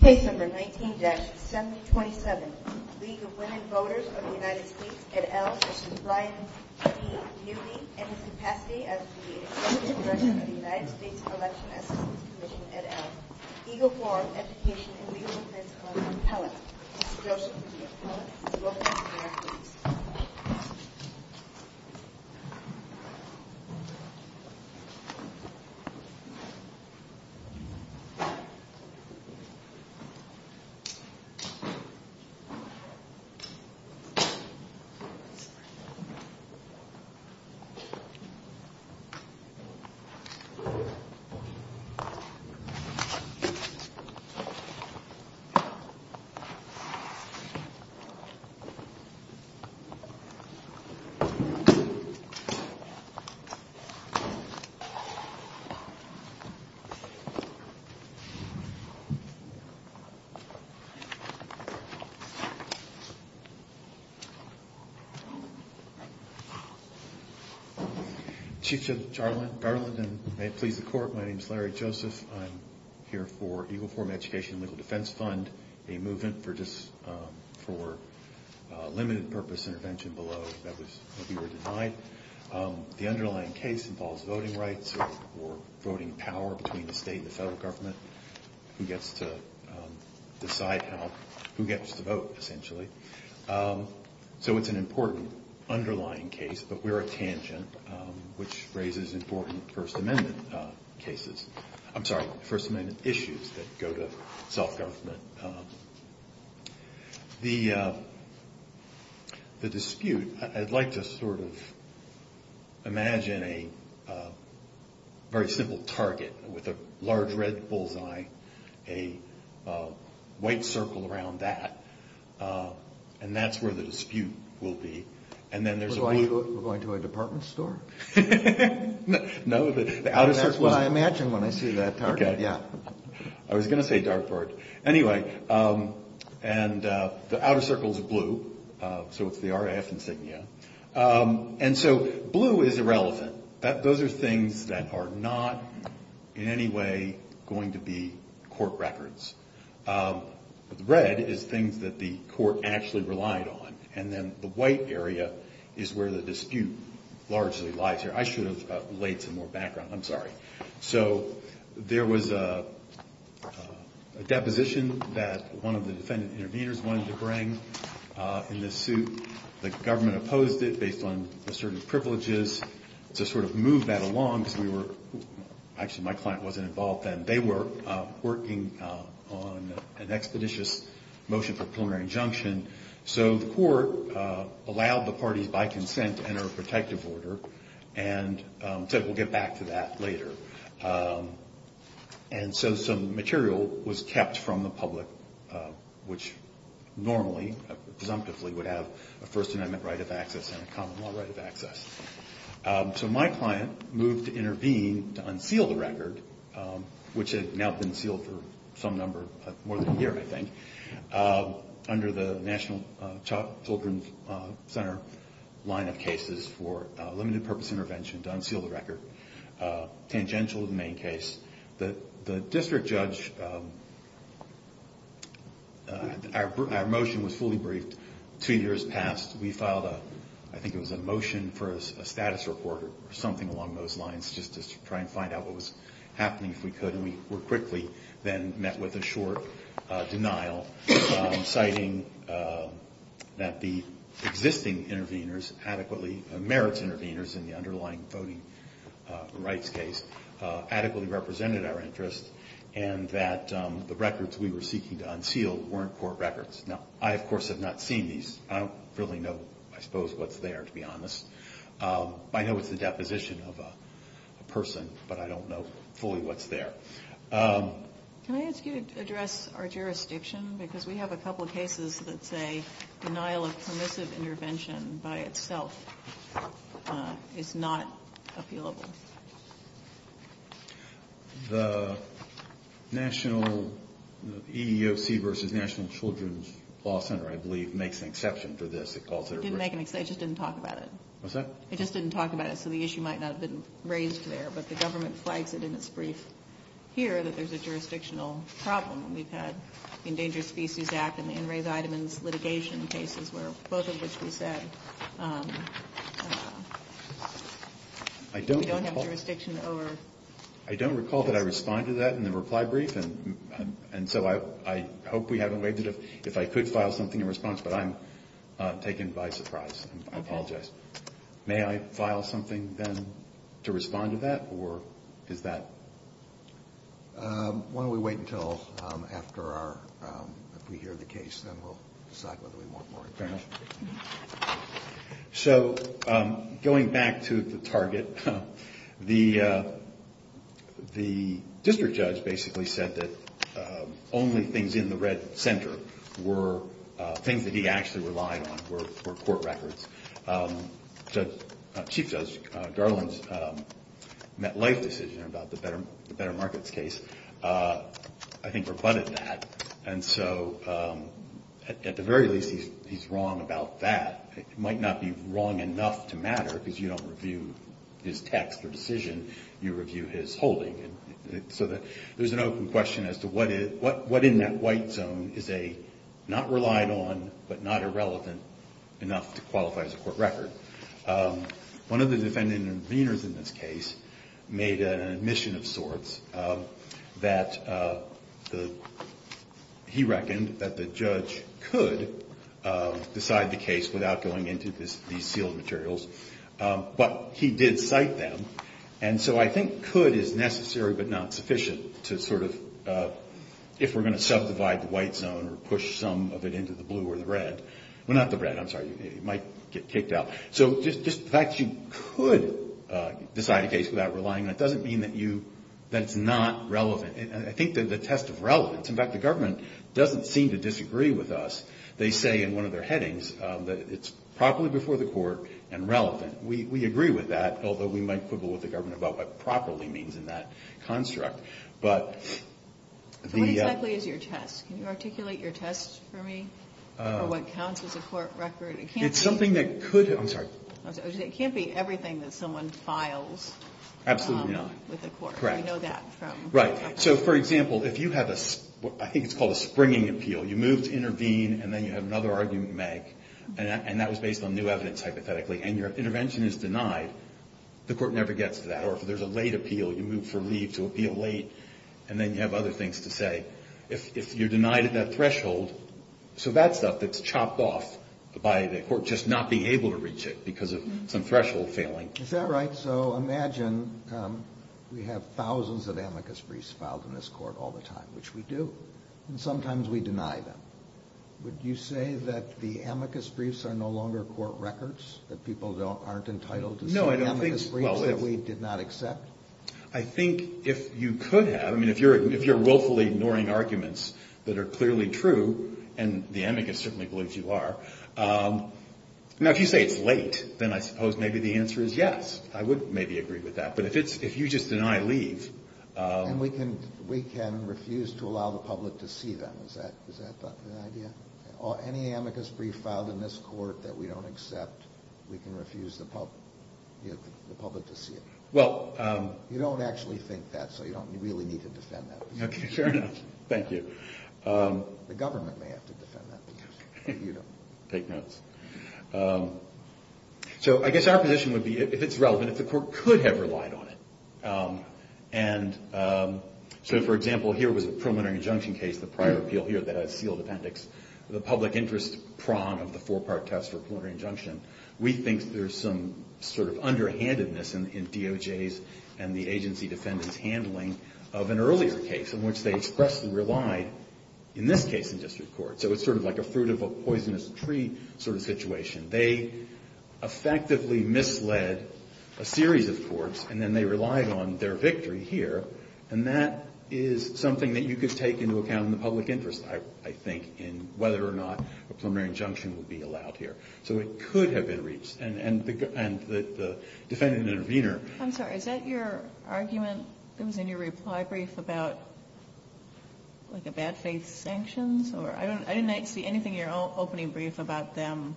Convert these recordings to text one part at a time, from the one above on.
Case No. 19-727, League of Women Voters of the United States, et al. This is Brian D. Newby in his capacity as the Executive Director of the United States Election Assistance Commission, et al. Eagle Forum, Education and Legal Principles, appellate. Mr. Joseph will be appellate. Welcome, Mr. Newby. Thank you, Mr. Newby. Thank you, Mr. Newby. Chief Justice Garland, and may it please the Court, my name is Larry Joseph. I'm here for Eagle Forum, Education and Legal Defense Fund, a movement for limited purpose intervention below that we were denied. The underlying case involves voting rights or voting power between the state and the federal government. Who gets to decide who gets to vote, essentially. So it's an important underlying case, but we're a tangent, which raises important First Amendment cases. I'm sorry, First Amendment issues that go to self-government. The dispute, I'd like to sort of imagine a very simple target with a large red bullseye, a white circle around that. And that's where the dispute will be. We're going to a department store? No, the outer circle. That's what I imagine when I see that target, yeah. I was going to say dartboard. Anyway, and the outer circle is blue, so it's the RAF insignia. And so blue is irrelevant. Those are things that are not in any way going to be court records. Red is things that the court actually relied on. And then the white area is where the dispute largely lies here. I should have laid some more background. I'm sorry. So there was a deposition that one of the defendant interveners wanted to bring in this suit. The government opposed it based on assertive privileges to sort of move that along because we were — actually, my client wasn't involved then. They were working on an expeditious motion for preliminary injunction. So the court allowed the parties by consent to enter a protective order and said we'll get back to that later. And so some material was kept from the public, which normally presumptively would have a First Amendment right of access and a common law right of access. So my client moved to intervene to unseal the record, which had now been sealed for some number, more than a year, I think, under the National Children's Center line of cases for limited-purpose intervention to unseal the record, tangential to the main case. The district judge — our motion was fully briefed. Two years passed. We filed a — I think it was a motion for a status report or something along those lines, just to try and find out what was happening, if we could. And we were quickly then met with a short denial, citing that the existing intervenors adequately — merits intervenors in the underlying voting rights case adequately represented our interest and that the records we were seeking to unseal weren't court records. Now, I, of course, have not seen these. I don't really know, I suppose, what's there, to be honest. I know it's the deposition of a person, but I don't know fully what's there. Can I ask you to address our jurisdiction? Because we have a couple of cases that say denial of permissive intervention by itself is not appealable. The National — the EEOC versus National Children's Law Center, I believe, makes an exception to this. It didn't make an — it just didn't talk about it. What's that? It just didn't talk about it, so the issue might not have been raised there. But the government flags it in its brief here that there's a jurisdictional problem. We've had the Endangered Species Act and the In Reitemann's litigation cases, where both of which we said we don't have jurisdiction over — I don't recall that I responded to that in the reply brief, and so I hope we haven't waived it. I don't know if I could file something in response, but I'm taken by surprise. I apologize. May I file something then to respond to that, or is that — Why don't we wait until after our — if we hear the case, then we'll decide whether we want more information. Fair enough. So going back to the target, the district judge basically said that only things in the red center were things that he actually relied on, were court records. Chief Judge Garland's MetLife decision about the Better Markets case, I think, rebutted that, and so at the very least, he's wrong about that. It might not be wrong enough to matter, because you don't review his text or decision. You review his holding. So there's an open question as to what in that white zone is not relied on, but not irrelevant enough to qualify as a court record. One of the defendant interveners in this case made an admission of sorts that he reckoned that the judge could decide the case without going into these sealed materials, but he did cite them, and so I think could is necessary but not sufficient to sort of — if we're going to subdivide the white zone or push some of it into the blue or the red — well, not the red, I'm sorry. It might get kicked out. So just the fact that you could decide a case without relying on it doesn't mean that it's not relevant. I think that the test of relevance — in fact, the government doesn't seem to disagree with us. They say in one of their headings that it's properly before the court and relevant. We agree with that, although we might quibble with the government about what properly means in that construct. But the — So what exactly is your test? Can you articulate your test for me? Or what counts as a court record? It's something that could — I'm sorry. It can't be everything that someone files. Absolutely not. With the court. Correct. We know that from — Right. So, for example, if you have a — I think it's called a springing appeal. You move to intervene, and then you have another argument to make, and that was based on new evidence, hypothetically, and your intervention is denied, the court never gets that. Or if there's a late appeal, you move for leave to appeal late, and then you have other things to say. If you're denied at that threshold, so that's stuff that's chopped off by the court just not being able to reach it because of some threshold failing. Is that right? So imagine we have thousands of amicus briefs filed in this court all the time, which we do, and sometimes we deny them. Would you say that the amicus briefs are no longer court records, that people aren't entitled to see amicus briefs that we did not accept? I think if you could have. I mean, if you're willfully ignoring arguments that are clearly true, and the amicus certainly believes you are. Now, if you say it's late, then I suppose maybe the answer is yes. I would maybe agree with that. But if you just deny leave — And we can refuse to allow the public to see them. Is that an idea? Any amicus brief filed in this court that we don't accept, we can refuse the public to see it. Well — You don't actually think that, so you don't really need to defend that. Okay, sure enough. Thank you. The government may have to defend that, but you don't. Take notes. So I guess our position would be, if it's relevant, if the court could have relied on it. And so, for example, here was a preliminary injunction case, the prior appeal here that has sealed appendix, the public interest prong of the four-part test for preliminary injunction. We think there's some sort of underhandedness in DOJ's and the agency defendant's handling of an earlier case, in which they expressly relied, in this case, in district court. So it's sort of like a fruit of a poisonous tree sort of situation. They effectively misled a series of courts, and then they relied on their victory here. And that is something that you could take into account in the public interest, I think, in whether or not a preliminary injunction would be allowed here. So it could have been reached. And the defendant intervener — I'm sorry. Is that your argument that was in your reply brief about, like, a bad faith sanctions? Or I didn't see anything in your opening brief about them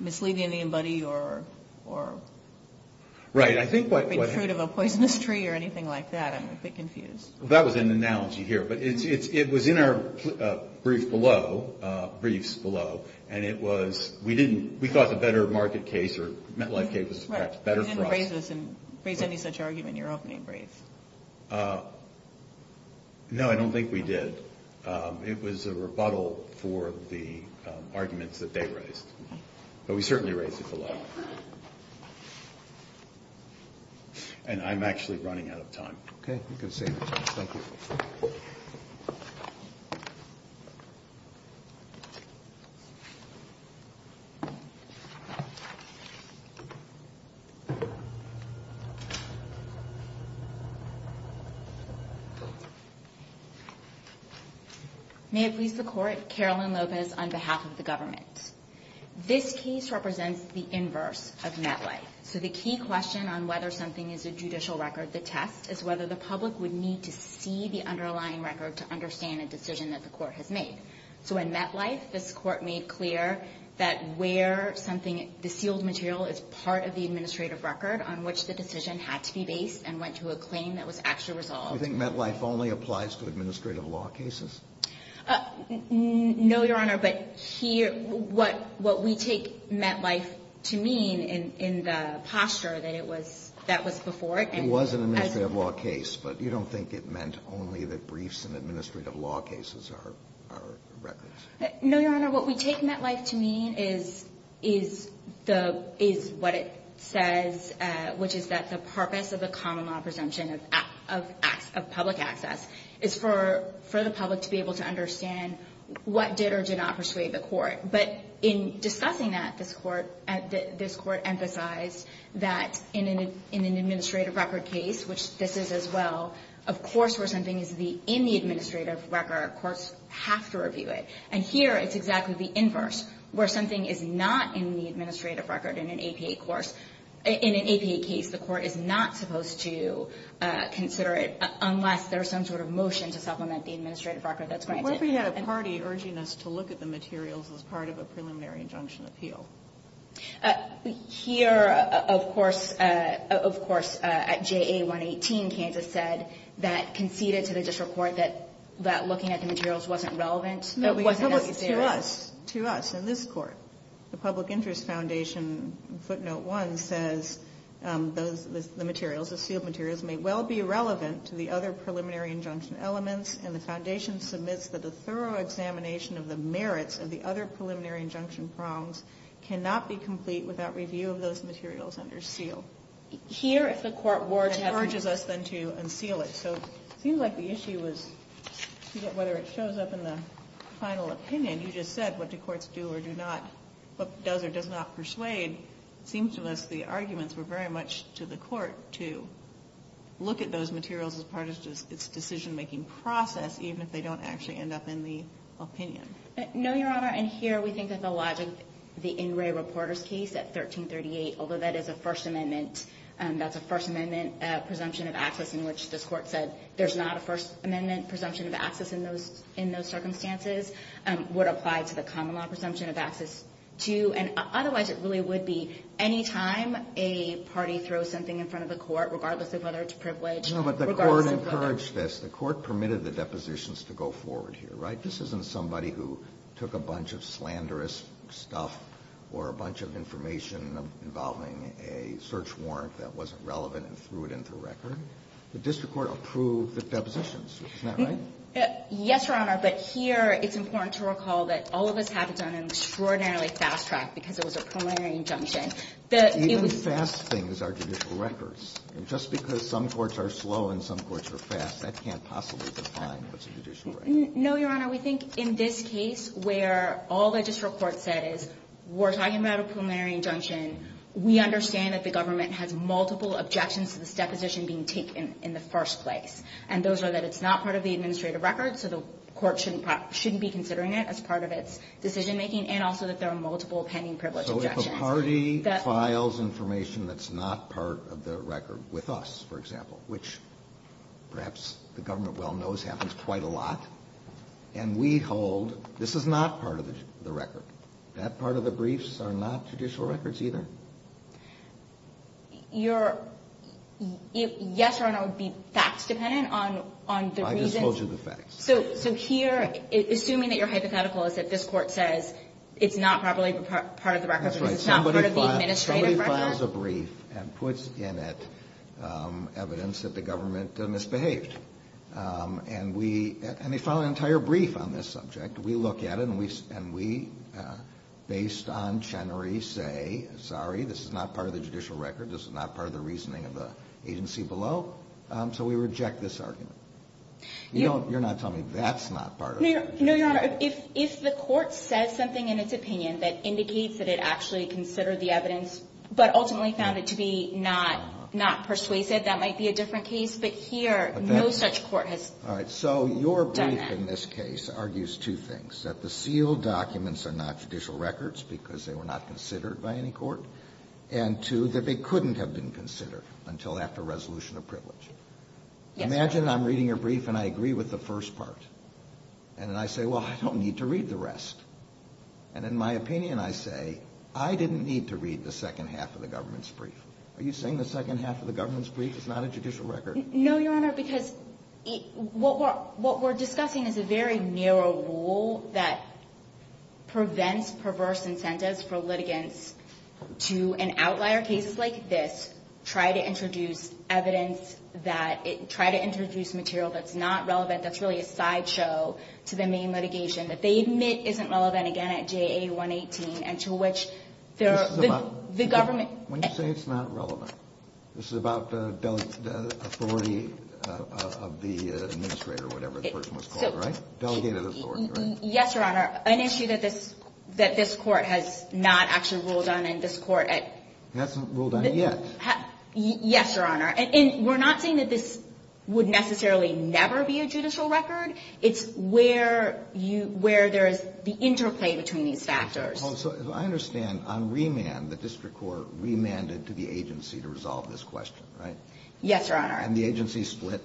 misleading anybody or — Right. I think what — Fruit of a poisonous tree or anything like that. I'm a bit confused. Well, that was an analogy here. But it was in our brief below, briefs below. And it was — we didn't — we thought the better market case or MetLife case was perhaps better for us. Right. You didn't raise any such argument in your opening brief. No, I don't think we did. But we certainly raised it below. And I'm actually running out of time. Okay. You can save it. Thank you. May it please the Court, Carolyn Lopez on behalf of the government. This case represents the inverse of MetLife. So the key question on whether something is a judicial record, the test, is whether the public would need to see the underlying record to understand a decision that the Court has made. So in MetLife, this Court made clear that where something — the sealed material is part of the administrative record on which the decision had to be based and went to a claim that was actually resolved. Do you think MetLife only applies to administrative law cases? No, Your Honor. But here — what we take MetLife to mean in the posture that it was — that was before it. It was an administrative law case. But you don't think it meant only that briefs and administrative law cases are records? No, Your Honor. What we take MetLife to mean is the — is what it says, which is that the purpose of the common law presumption of public access is for the public to be able to understand what did or did not persuade the Court. But in discussing that, this Court emphasized that in an administrative record case, which this is as well, of course where something is in the administrative record, courts have to review it. And here it's exactly the inverse, where something is not in the administrative record in an APA course, in an APA case, the Court is not supposed to consider it unless there's some sort of motion to supplement the administrative record that's granted. But what if we had a party urging us to look at the materials as part of a preliminary injunction appeal? Here, of course, at JA-118, Kansas said that conceded to the district court that looking at the materials wasn't relevant, that it wasn't necessary. But to us, to us, in this Court, the Public Interest Foundation footnote 1 says, the materials, the sealed materials may well be relevant to the other preliminary injunction elements, and the Foundation submits that a thorough examination of the merits of the other preliminary injunction prongs cannot be complete without review of those materials under seal. Here, if the Court were to — And urges us then to unseal it. So it seems like the issue was whether it shows up in the final opinion. You just said, what do courts do or do not — what does or does not persuade? It seems to us the arguments were very much to the Court to look at those materials as part of its decision-making process, even if they don't actually end up in the opinion. No, Your Honor. And here we think that the logic, the Ingray-Reporters case at 1338, although that is a First Amendment — that there's not a First Amendment presumption of access in those circumstances, would apply to the common law presumption of access, too. And otherwise, it really would be any time a party throws something in front of the Court, regardless of whether it's privileged, regardless of whether — No, but the Court encouraged this. The Court permitted the depositions to go forward here, right? This isn't somebody who took a bunch of slanderous stuff or a bunch of information involving a search warrant that wasn't relevant and threw it into the record. The district court approved the depositions. Isn't that right? Yes, Your Honor. But here it's important to recall that all of us haven't done an extraordinarily fast track because it was a preliminary injunction. Even fast things are judicial records. And just because some courts are slow and some courts are fast, that can't possibly define what's a judicial record. No, Your Honor. We think in this case where all the district court said is, we're talking about a preliminary injunction, we understand that the government has multiple objections to this deposition being taken in the first place. And those are that it's not part of the administrative record, so the Court shouldn't be considering it as part of its decision-making, and also that there are multiple pending privilege objections. So if a party files information that's not part of the record with us, for example, which perhaps the government well knows happens quite a lot, and we hold this is not part of the record, that part of the briefs are not judicial records either? Yes, Your Honor, it would be facts dependent on the reasons. I just told you the facts. So here, assuming that your hypothetical is that this court says it's not properly part of the record, it's not part of the administrative record. Somebody files a brief and puts in it evidence that the government misbehaved. And they file an entire brief on this subject. We look at it, and we, based on Chenery, say, sorry, this is not part of the judicial record, this is not part of the reasoning of the agency below. So we reject this argument. You're not telling me that's not part of it. No, Your Honor. If the court says something in its opinion that indicates that it actually considered the evidence but ultimately found it to be not persuasive, that might be a different case. But here, no such court has done that. All right, so your brief in this case argues two things, that the sealed documents are not judicial records because they were not considered by any court, and two, that they couldn't have been considered until after resolution of privilege. Yes. Imagine I'm reading your brief and I agree with the first part. And then I say, well, I don't need to read the rest. And in my opinion, I say, I didn't need to read the second half of the government's brief. Are you saying the second half of the government's brief is not a judicial record? No, Your Honor, because what we're discussing is a very narrow rule that prevents perverse incentives for litigants to, in outlier cases like this, try to introduce material that's not relevant, that's really a sideshow to the main litigation that they admit isn't relevant, again, at JA-118, and to which the government – When you say it's not relevant, this is about the authority of the administrator or whatever the person was called, right? Delegated authority, right? Yes, Your Honor. An issue that this – that this Court has not actually ruled on and this Court at – Hasn't ruled on it yet. Yes, Your Honor. And we're not saying that this would necessarily never be a judicial record. It's where you – where there is the interplay between these factors. Well, so as I understand, on remand, the district court remanded to the agency to resolve this question, right? Yes, Your Honor. And the agency split?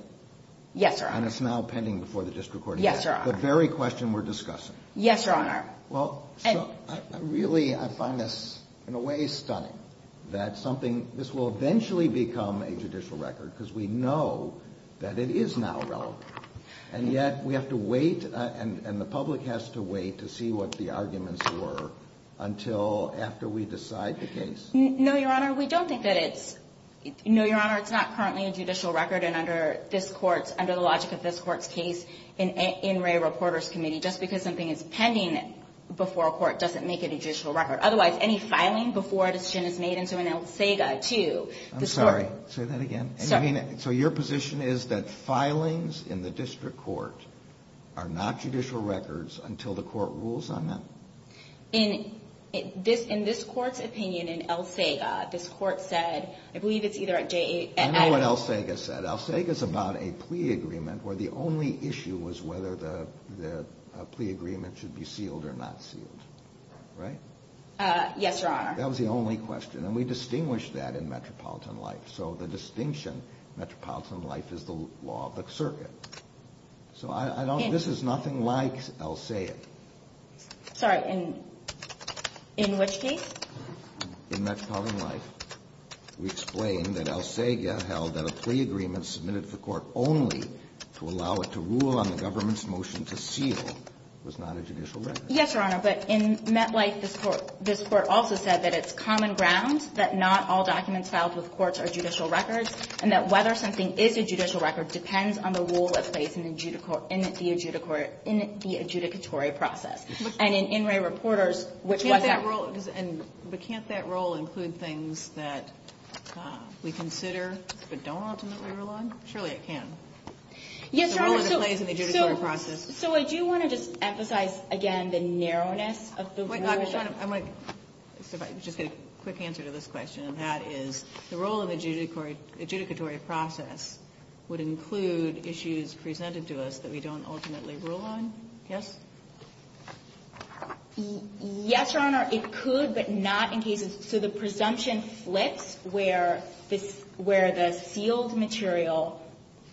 Yes, Your Honor. And it's now pending before the district court again. Yes, Your Honor. The very question we're discussing. Yes, Your Honor. Well, so I really – I find this in a way stunning that something – this will eventually become a judicial record because we know that it is now relevant. And yet we have to wait and the public has to wait to see what the arguments were until after we decide the case. No, Your Honor. We don't think that it's – no, Your Honor. It's not currently a judicial record. And under this Court's – under the logic of this Court's case in Ray Reporter's Committee, just because something is pending before a court doesn't make it a judicial record. Otherwise, any filing before a decision is made into an ILSEGA to the – I'm sorry. Say that again. Sorry. I mean, so your position is that filings in the district court are not judicial records until the court rules on them? In this – in this Court's opinion, in ILSEGA, this Court said – I believe it's either at JA – I know what ILSEGA said. ILSEGA's about a plea agreement where the only issue was whether the plea agreement should be sealed or not sealed. Right? Yes, Your Honor. That was the only question. And we distinguish that in metropolitan life. So the distinction, metropolitan life, is the law of the circuit. So I don't – this is nothing like ILSEGA. Sorry. In which case? In metropolitan life, we explained that ILSEGA held that a plea agreement submitted to the court only to allow it to rule on the government's motion to seal was not a judicial record. Yes, Your Honor. But in MetLife, this Court – this Court also said that it's common ground that not all documents filed with courts are judicial records and that whether something is a judicial record depends on the rule that plays in the – in the adjudicatory process. And in In Re Reporters, which was – Can't that rule – but can't that rule include things that we consider but don't ultimately rule on? Surely it can. Yes, Your Honor. The rule that plays in the adjudicatory process. So I do want to just emphasize, again, the narrowness of the rule. I want to just get a quick answer to this question, and that is the role of adjudicatory process would include issues presented to us that we don't ultimately rule on? Yes? Yes, Your Honor. It could, but not in cases – so the presumption flips where this – where the sealed material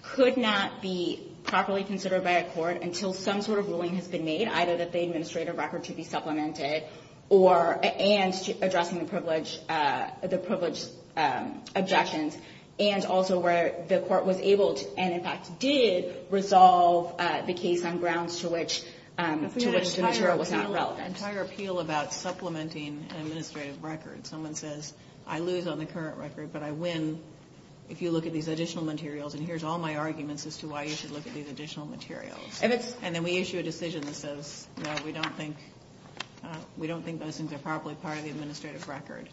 could not be properly considered by a court until some sort of ruling has been made, either that the administrative record should be supplemented or – and addressing the privilege – the privilege objections, and also where the court was able to, and in fact did, resolve the case on grounds to which – to which the material was not relevant. That's an entire appeal about supplementing an administrative record. Someone says, I lose on the current record, but I win if you look at these additional materials, and here's all my arguments as to why you should look at these additional materials. If it's – And then we issue a decision that says, no, we don't think – we don't think those things are properly part of the administrative record.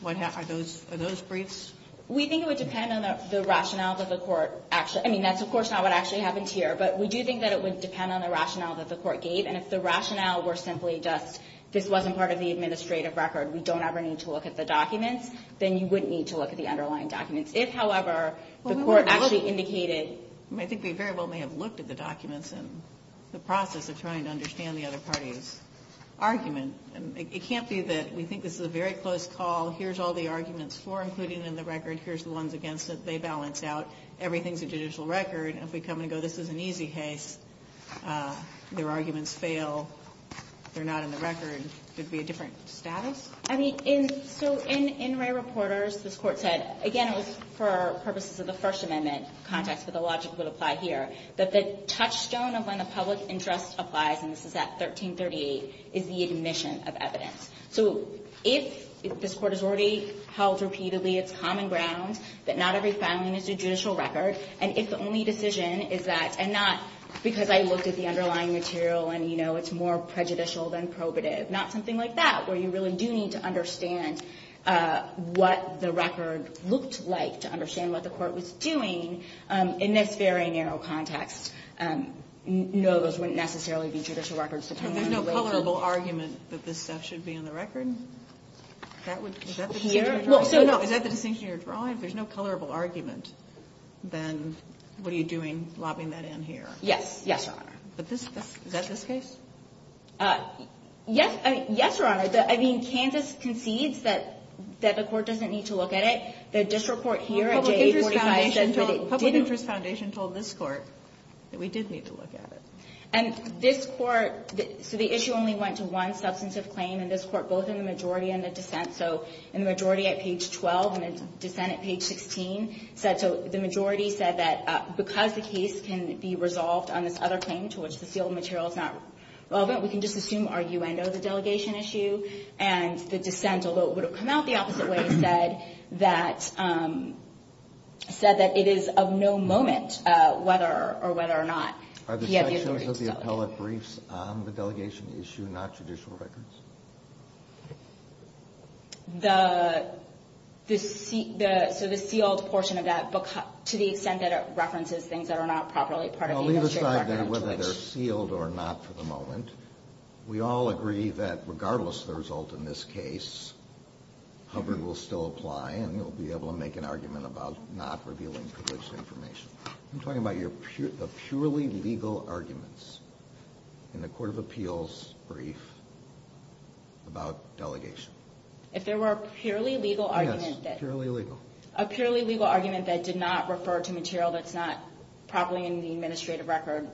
What – are those – are those briefs? We think it would depend on the rationale that the court actually – I mean, that's of course not what actually happens here, but we do think that it would depend on the rationale that the court gave, and if the rationale were simply just this wasn't part of the administrative record, we don't ever need to look at the documents, then you wouldn't need to look at the underlying documents. If, however, the court actually indicated – I think we very well may have looked at the documents in the process of trying to understand the other party's argument. It can't be that we think this is a very close call. Here's all the arguments for including in the record. Here's the ones against it. They balance out. Everything's a judicial record. If we come and go, this is an easy case. Their arguments fail. They're not in the record. It would be a different status. I mean, in – so in Ray Reporters, this Court said – again, it was for purposes of the logic that apply here – that the touchstone of when the public interest applies – and this is at 1338 – is the admission of evidence. So if this Court has already held repeatedly its common ground that not every filing is a judicial record, and if the only decision is that – and not because I looked at the underlying material and, you know, it's more prejudicial than probative. Not something like that, where you really do need to understand what the record looked like to understand what the court was doing in this very narrow context. No, those wouldn't necessarily be judicial records. There's no colorable argument that this stuff should be in the record? Is that the distinction you're drawing? If there's no colorable argument, then what are you doing lobbying that in here? Yes. Yes, Your Honor. Is that this case? Yes, Your Honor. I mean, Kansas concedes that the court doesn't need to look at it. The district court here at JA 45 said that it didn't. The Public Interest Foundation told this court that we did need to look at it. And this court – so the issue only went to one substantive claim in this court, both in the majority and the dissent. So in the majority at page 12 and the dissent at page 16 said – so the majority said that because the case can be resolved on this other claim to which the sealed material is not relevant, we can just assume arguendo the delegation issue. And the dissent, although it would have come out the opposite way, said that – said that it is of no moment whether or whether or not – Are the sections of the appellate briefs on the delegation issue not judicial records? The – so the sealed portion of that – to the extent that it references things that are not properly part of the administrative document to which – Well, leave aside whether they're sealed or not for the moment. We all agree that regardless of the result in this case, Hubbard will still apply and he'll be able to make an argument about not revealing privileged information. I'm talking about the purely legal arguments in the court of appeals brief about delegation. Yes, purely legal. Probably in the administrative record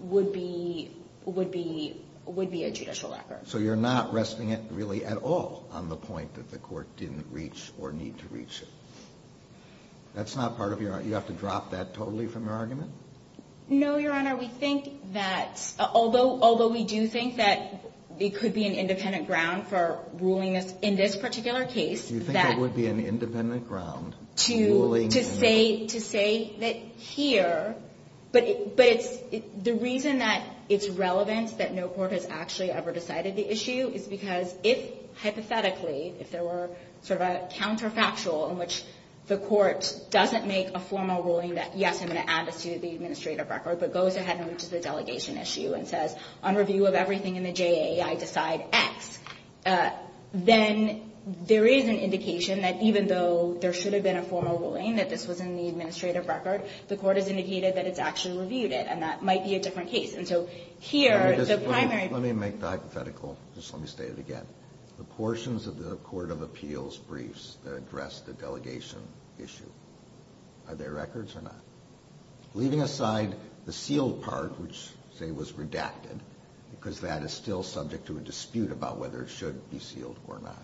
would be – would be a judicial record. So you're not resting it really at all on the point that the court didn't reach or need to reach it. That's not part of your – you have to drop that totally from your argument? No, Your Honor. We think that – although we do think that it could be an independent ground for ruling in this particular case that – You think it would be an independent ground to – But it's – the reason that it's relevant that no court has actually ever decided the issue is because if, hypothetically, if there were sort of a counterfactual in which the court doesn't make a formal ruling that, yes, I'm going to add this to the administrative record, but goes ahead and reaches the delegation issue and says, on review of everything in the JA, I decide X, then there is an indication that even though there should have been a formal ruling that this was in the administrative record, the court has indicated that it's actually reviewed it, and that might be a different case. And so here, the primary – Let me make the hypothetical. Just let me state it again. The portions of the court of appeals briefs that address the delegation issue, are they records or not? Leaving aside the sealed part, which, say, was redacted, because that is still subject to a dispute about whether it should be sealed or not.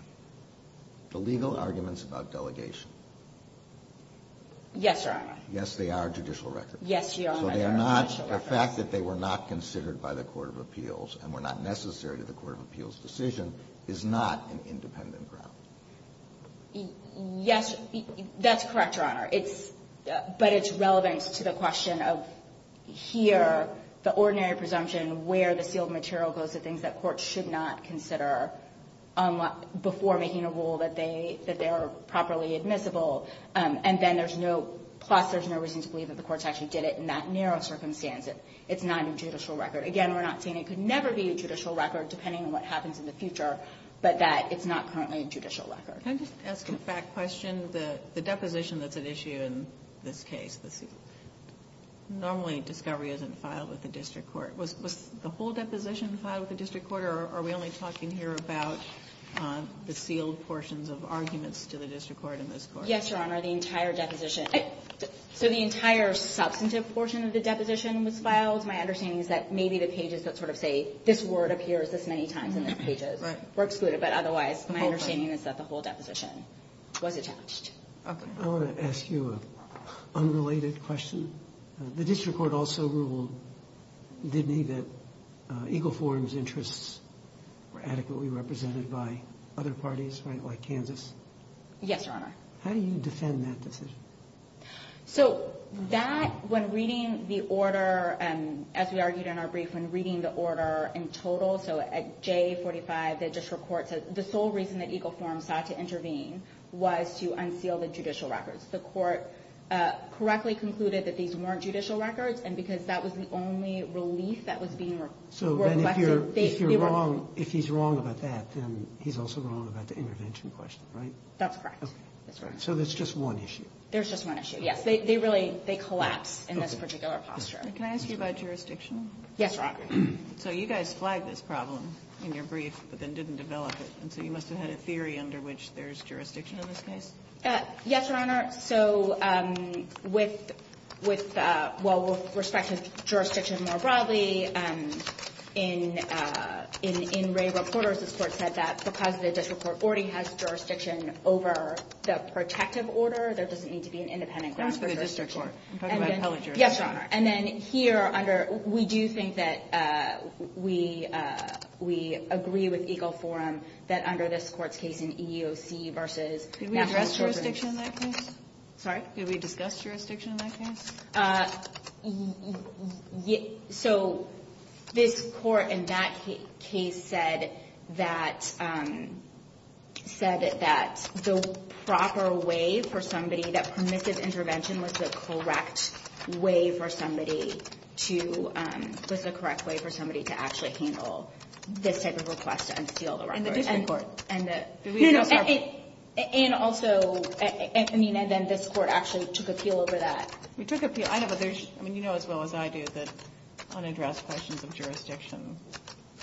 The legal arguments about delegation. Yes, Your Honor. Yes, they are judicial records. Yes, they are judicial records. So the fact that they were not considered by the court of appeals and were not necessary to the court of appeals decision is not an independent ground. Yes, that's correct, Your Honor. But it's relevant to the question of here, the ordinary presumption, where the sealed material goes to things that courts should not consider before making a rule that they are properly admissible. And then there's no – plus there's no reason to believe that the courts actually did it in that narrow circumstance. It's not a judicial record. Again, we're not saying it could never be a judicial record, depending on what happens in the future, but that it's not currently a judicial record. Can I just ask a fact question? The deposition that's at issue in this case, normally discovery isn't filed with the district court. Was the whole deposition filed with the district court, or are we only talking here about the sealed portions of arguments to the district court in this court? Yes, Your Honor, the entire deposition. So the entire substantive portion of the deposition was filed. My understanding is that maybe the pages that sort of say, this word appears this many times in the pages were excluded, but otherwise my understanding is that the whole deposition was attached. I want to ask you an unrelated question. The district court also ruled, didn't he, that Eagle Forum's interests were adequately represented by other parties, right, like Kansas? Yes, Your Honor. How do you defend that decision? So that, when reading the order, as we argued in our brief, when reading the order in total, so at J45, the district court said the sole reason that Eagle Forum sought to intervene was to unseal the judicial records. The court correctly concluded that these weren't judicial records, and because that was the only relief that was being requested. So then if you're wrong, if he's wrong about that, then he's also wrong about the intervention question, right? That's correct. So there's just one issue. There's just one issue, yes. They collapse in this particular posture. Can I ask you about jurisdiction? Yes, Your Honor. So you guys flagged this problem in your brief but then didn't develop it, and so you must have had a theory under which there's jurisdiction in this case? Yes, Your Honor. So with, well, with respect to jurisdiction more broadly, in Ray Reporter's report said that because the district court already has jurisdiction over the protective order, there doesn't need to be an independent ground for jurisdiction. I'm talking about appellate jurisdiction. Yes, Your Honor. And then here under, we do think that we agree with Eagle Forum that under this court's case in EEOC versus national children's. Could we address jurisdiction in that case? Sorry? Could we discuss jurisdiction in that case? So this court in that case said that the proper way for somebody, that permissive intervention was the correct way for somebody to, to actually handle this type of request to unseal the records. And the district court. No, no. And also, I mean, and then this court actually took appeal over that. We took appeal. I know, but there's, I mean, you know as well as I do that unaddressed questions of jurisdiction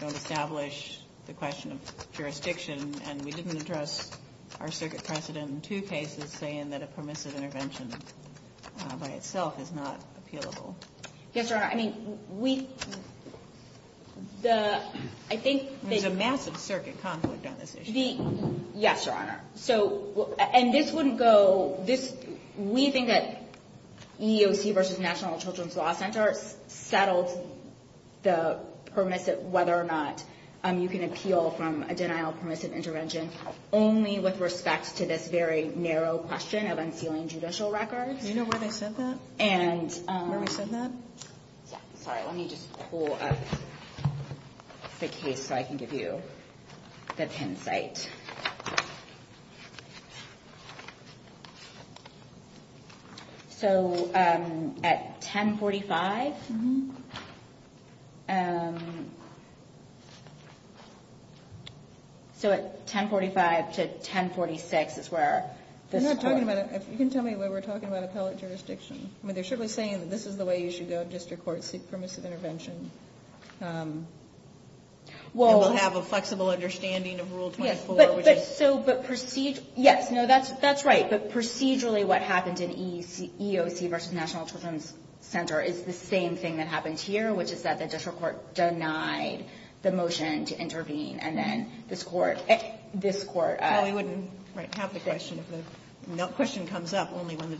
don't establish the question of jurisdiction, and we didn't address our circuit precedent in two cases saying that a permissive intervention by itself is not appealable. Yes, Your Honor. I mean, we, the, I think. There's a massive circuit conflict on this issue. Yes, Your Honor. So, and this wouldn't go, this, we think that EEOC versus national children's law centers settled the permissive, whether or not you can appeal from a denial of permissive intervention only with respect to this very narrow question of unsealing judicial records. Do you know where they said that? And. Where we said that? Sorry, let me just pull up the case so I can give you the hindsight. So at 1045. So at 1045 to 1046 is where this court. I'm not talking about, if you can tell me where we're talking about appellate jurisdiction. I mean, they're certainly saying that this is the way you should go in district courts to seek permissive intervention. Well, we'll have a flexible understanding of rule 24. So, but proceed. Yes. No, that's, that's right. But procedurally, what happened in EEOC versus national children's center is the same thing that happened here, which is that the district court denied the motion to intervene. And then this court, this court. We wouldn't have the question. The question comes up only when the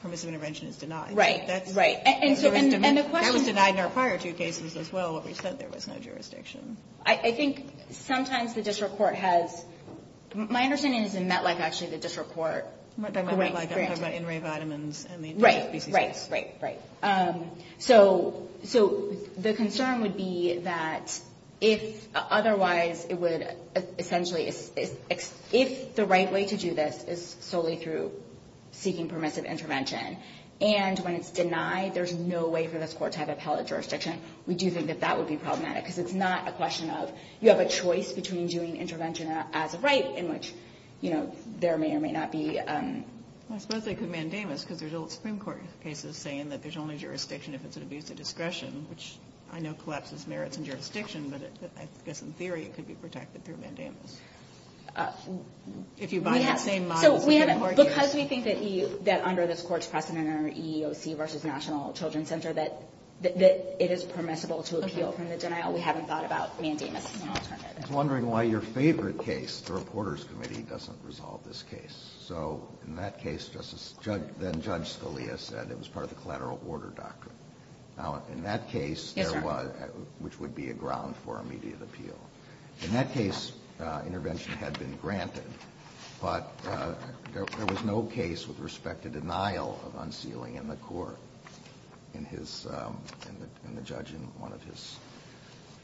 permissive intervention is denied. Right. And the question. That was denied in our prior two cases as well. What we said, there was no jurisdiction. I think sometimes the district court has. My understanding is in MetLife actually the district court. Correct. I'm talking about in-ray vitamins. Right. Right. Right. Right. So, so the concern would be that if otherwise it would essentially, if the right way to do this is solely through seeking permissive intervention and when it's denied, there's no way for this court to have appellate jurisdiction. We do think that that would be problematic because it's not a question of you have a choice between doing intervention as a right in which, you know, there may or may not be. I suppose they could mandamus because there's old Supreme Court cases saying that there's only jurisdiction if it's an abuse of discretion, which I know collapses merits and jurisdiction, but I guess in theory it could be protected through mandamus. If you buy that same model. Because we think that under this court's precedent or EEOC versus National Children's Center that it is permissible to appeal from the denial, we haven't thought about mandamus as an alternative. I was wondering why your favorite case, the Reporters Committee doesn't resolve this case. So in that case, then Judge Scalia said it was part of the collateral order doctrine. Now in that case, which would be a ground for immediate appeal, in that case intervention had been granted, but there was no case with respect to denial of unsealing in the court. In his, in the judge, in one of his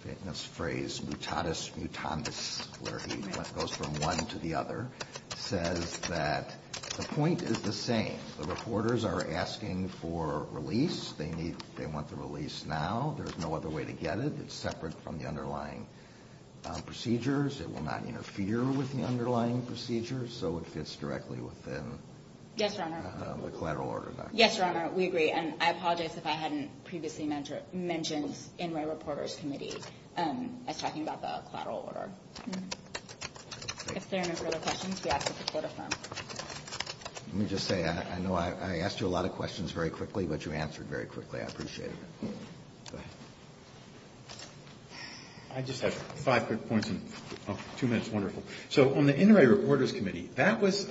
famous phrase, mutatis mutandis, where he goes from one to the other, says that the point is the same. The reporters are asking for release. They need, they want the release now. There's no other way to get it. It's separate from the underlying procedures. It will not interfere with the underlying procedures. So it fits directly within the collateral order doctrine. Yes, Your Honor, we agree. And I apologize if I hadn't previously mentioned in my Reporters Committee as talking about the collateral order. If there are no further questions, we ask that the Court affirm. Let me just say, I know I asked you a lot of questions very quickly, but you answered very quickly. I appreciate it. Go ahead. I just have five quick points and two minutes, wonderful. So on the Inouye Reporters Committee, that was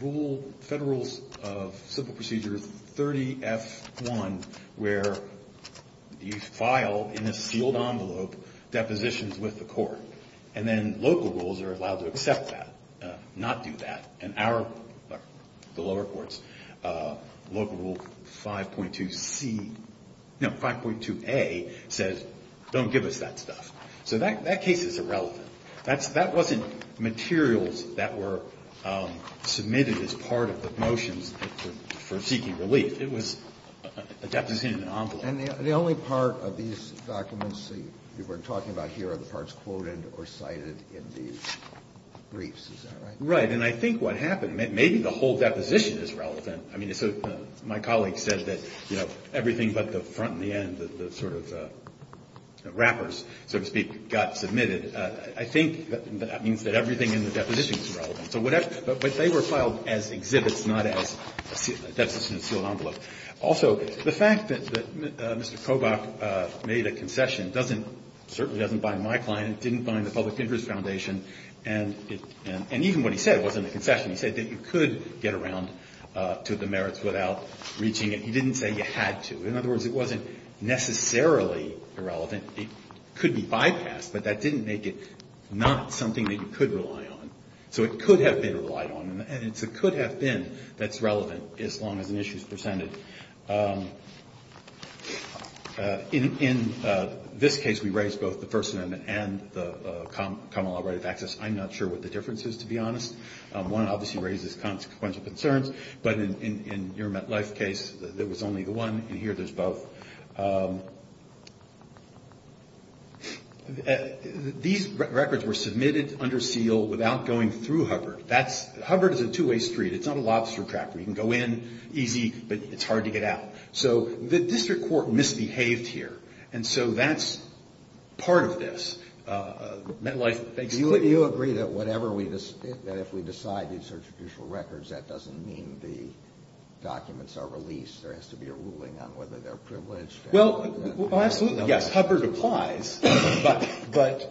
rule, Federal Rules of Simple Procedure 30F1, where you file in a sealed envelope depositions with the court. And then local rules are allowed to accept that, not do that. And our, the lower courts, local rule 5.2C, no, 5.2A says don't give us that stuff. So that case is irrelevant. That wasn't materials that were submitted as part of the motions for seeking relief. It was a deposition in an envelope. And the only part of these documents that we're talking about here are the parts quoted or cited in these briefs. Is that right? Right. And I think what happened, maybe the whole deposition is relevant. I mean, so my colleague said that, you know, everything but the front and the end, the sort of wrappers, so to speak, got submitted. I think that means that everything in the deposition is relevant. But they were filed as exhibits, not as a sealed envelope. Also, the fact that Mr. Kobach made a concession certainly doesn't bind my client. It didn't bind the Public Interest Foundation. And even what he said wasn't a concession. He said that you could get around to the merits without reaching it. He didn't say you had to. In other words, it wasn't necessarily irrelevant. It could be bypassed. But that didn't make it not something that you could rely on. So it could have been relied on. And it's a could have been that's relevant as long as an issue is presented. In this case, we raised both the First Amendment and the Common Law Right of Access. I'm not sure what the difference is, to be honest. One obviously raises consequential concerns. But in your MetLife case, there was only the one. In here, there's both. These records were submitted under seal without going through Hubbard. Hubbard is a two-way street. It's not a lobster trap where you can go in easy, but it's hard to get out. So the district court misbehaved here. And so that's part of this. MetLife makes clear. Do you agree that if we decide these are judicial records, that doesn't mean the documents are released? There has to be a ruling on whether they're privileged? Well, absolutely. Yes, Hubbard applies. But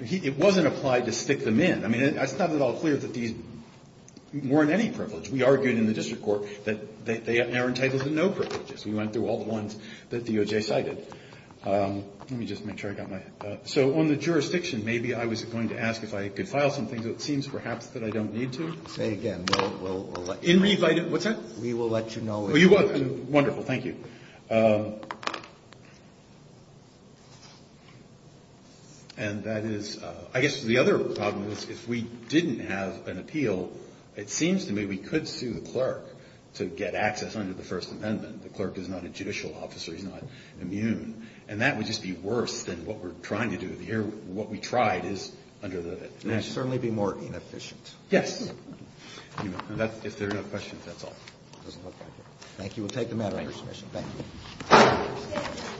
it wasn't applied to stick them in. I mean, it's not at all clear that these weren't any privileged. We argued in the district court that they are entitled to no privileges. We went through all the ones that DOJ cited. Let me just make sure I got my ---- So on the jurisdiction, maybe I was going to ask if I could file something, but it seems perhaps that I don't need to. Say again. We'll let you know. What's that? We will let you know. Oh, you won't. Wonderful. Thank you. And that is ---- I guess the other problem is if we didn't have an appeal, it seems to me we could sue the clerk to get access under the First Amendment. The clerk is not a judicial officer. He's not immune. And that would just be worse than what we're trying to do here. What we tried is under the ---- It would certainly be more inefficient. Yes. If there are no questions, that's all. Thank you. We'll take the matter under submission. Thank you. Thank you.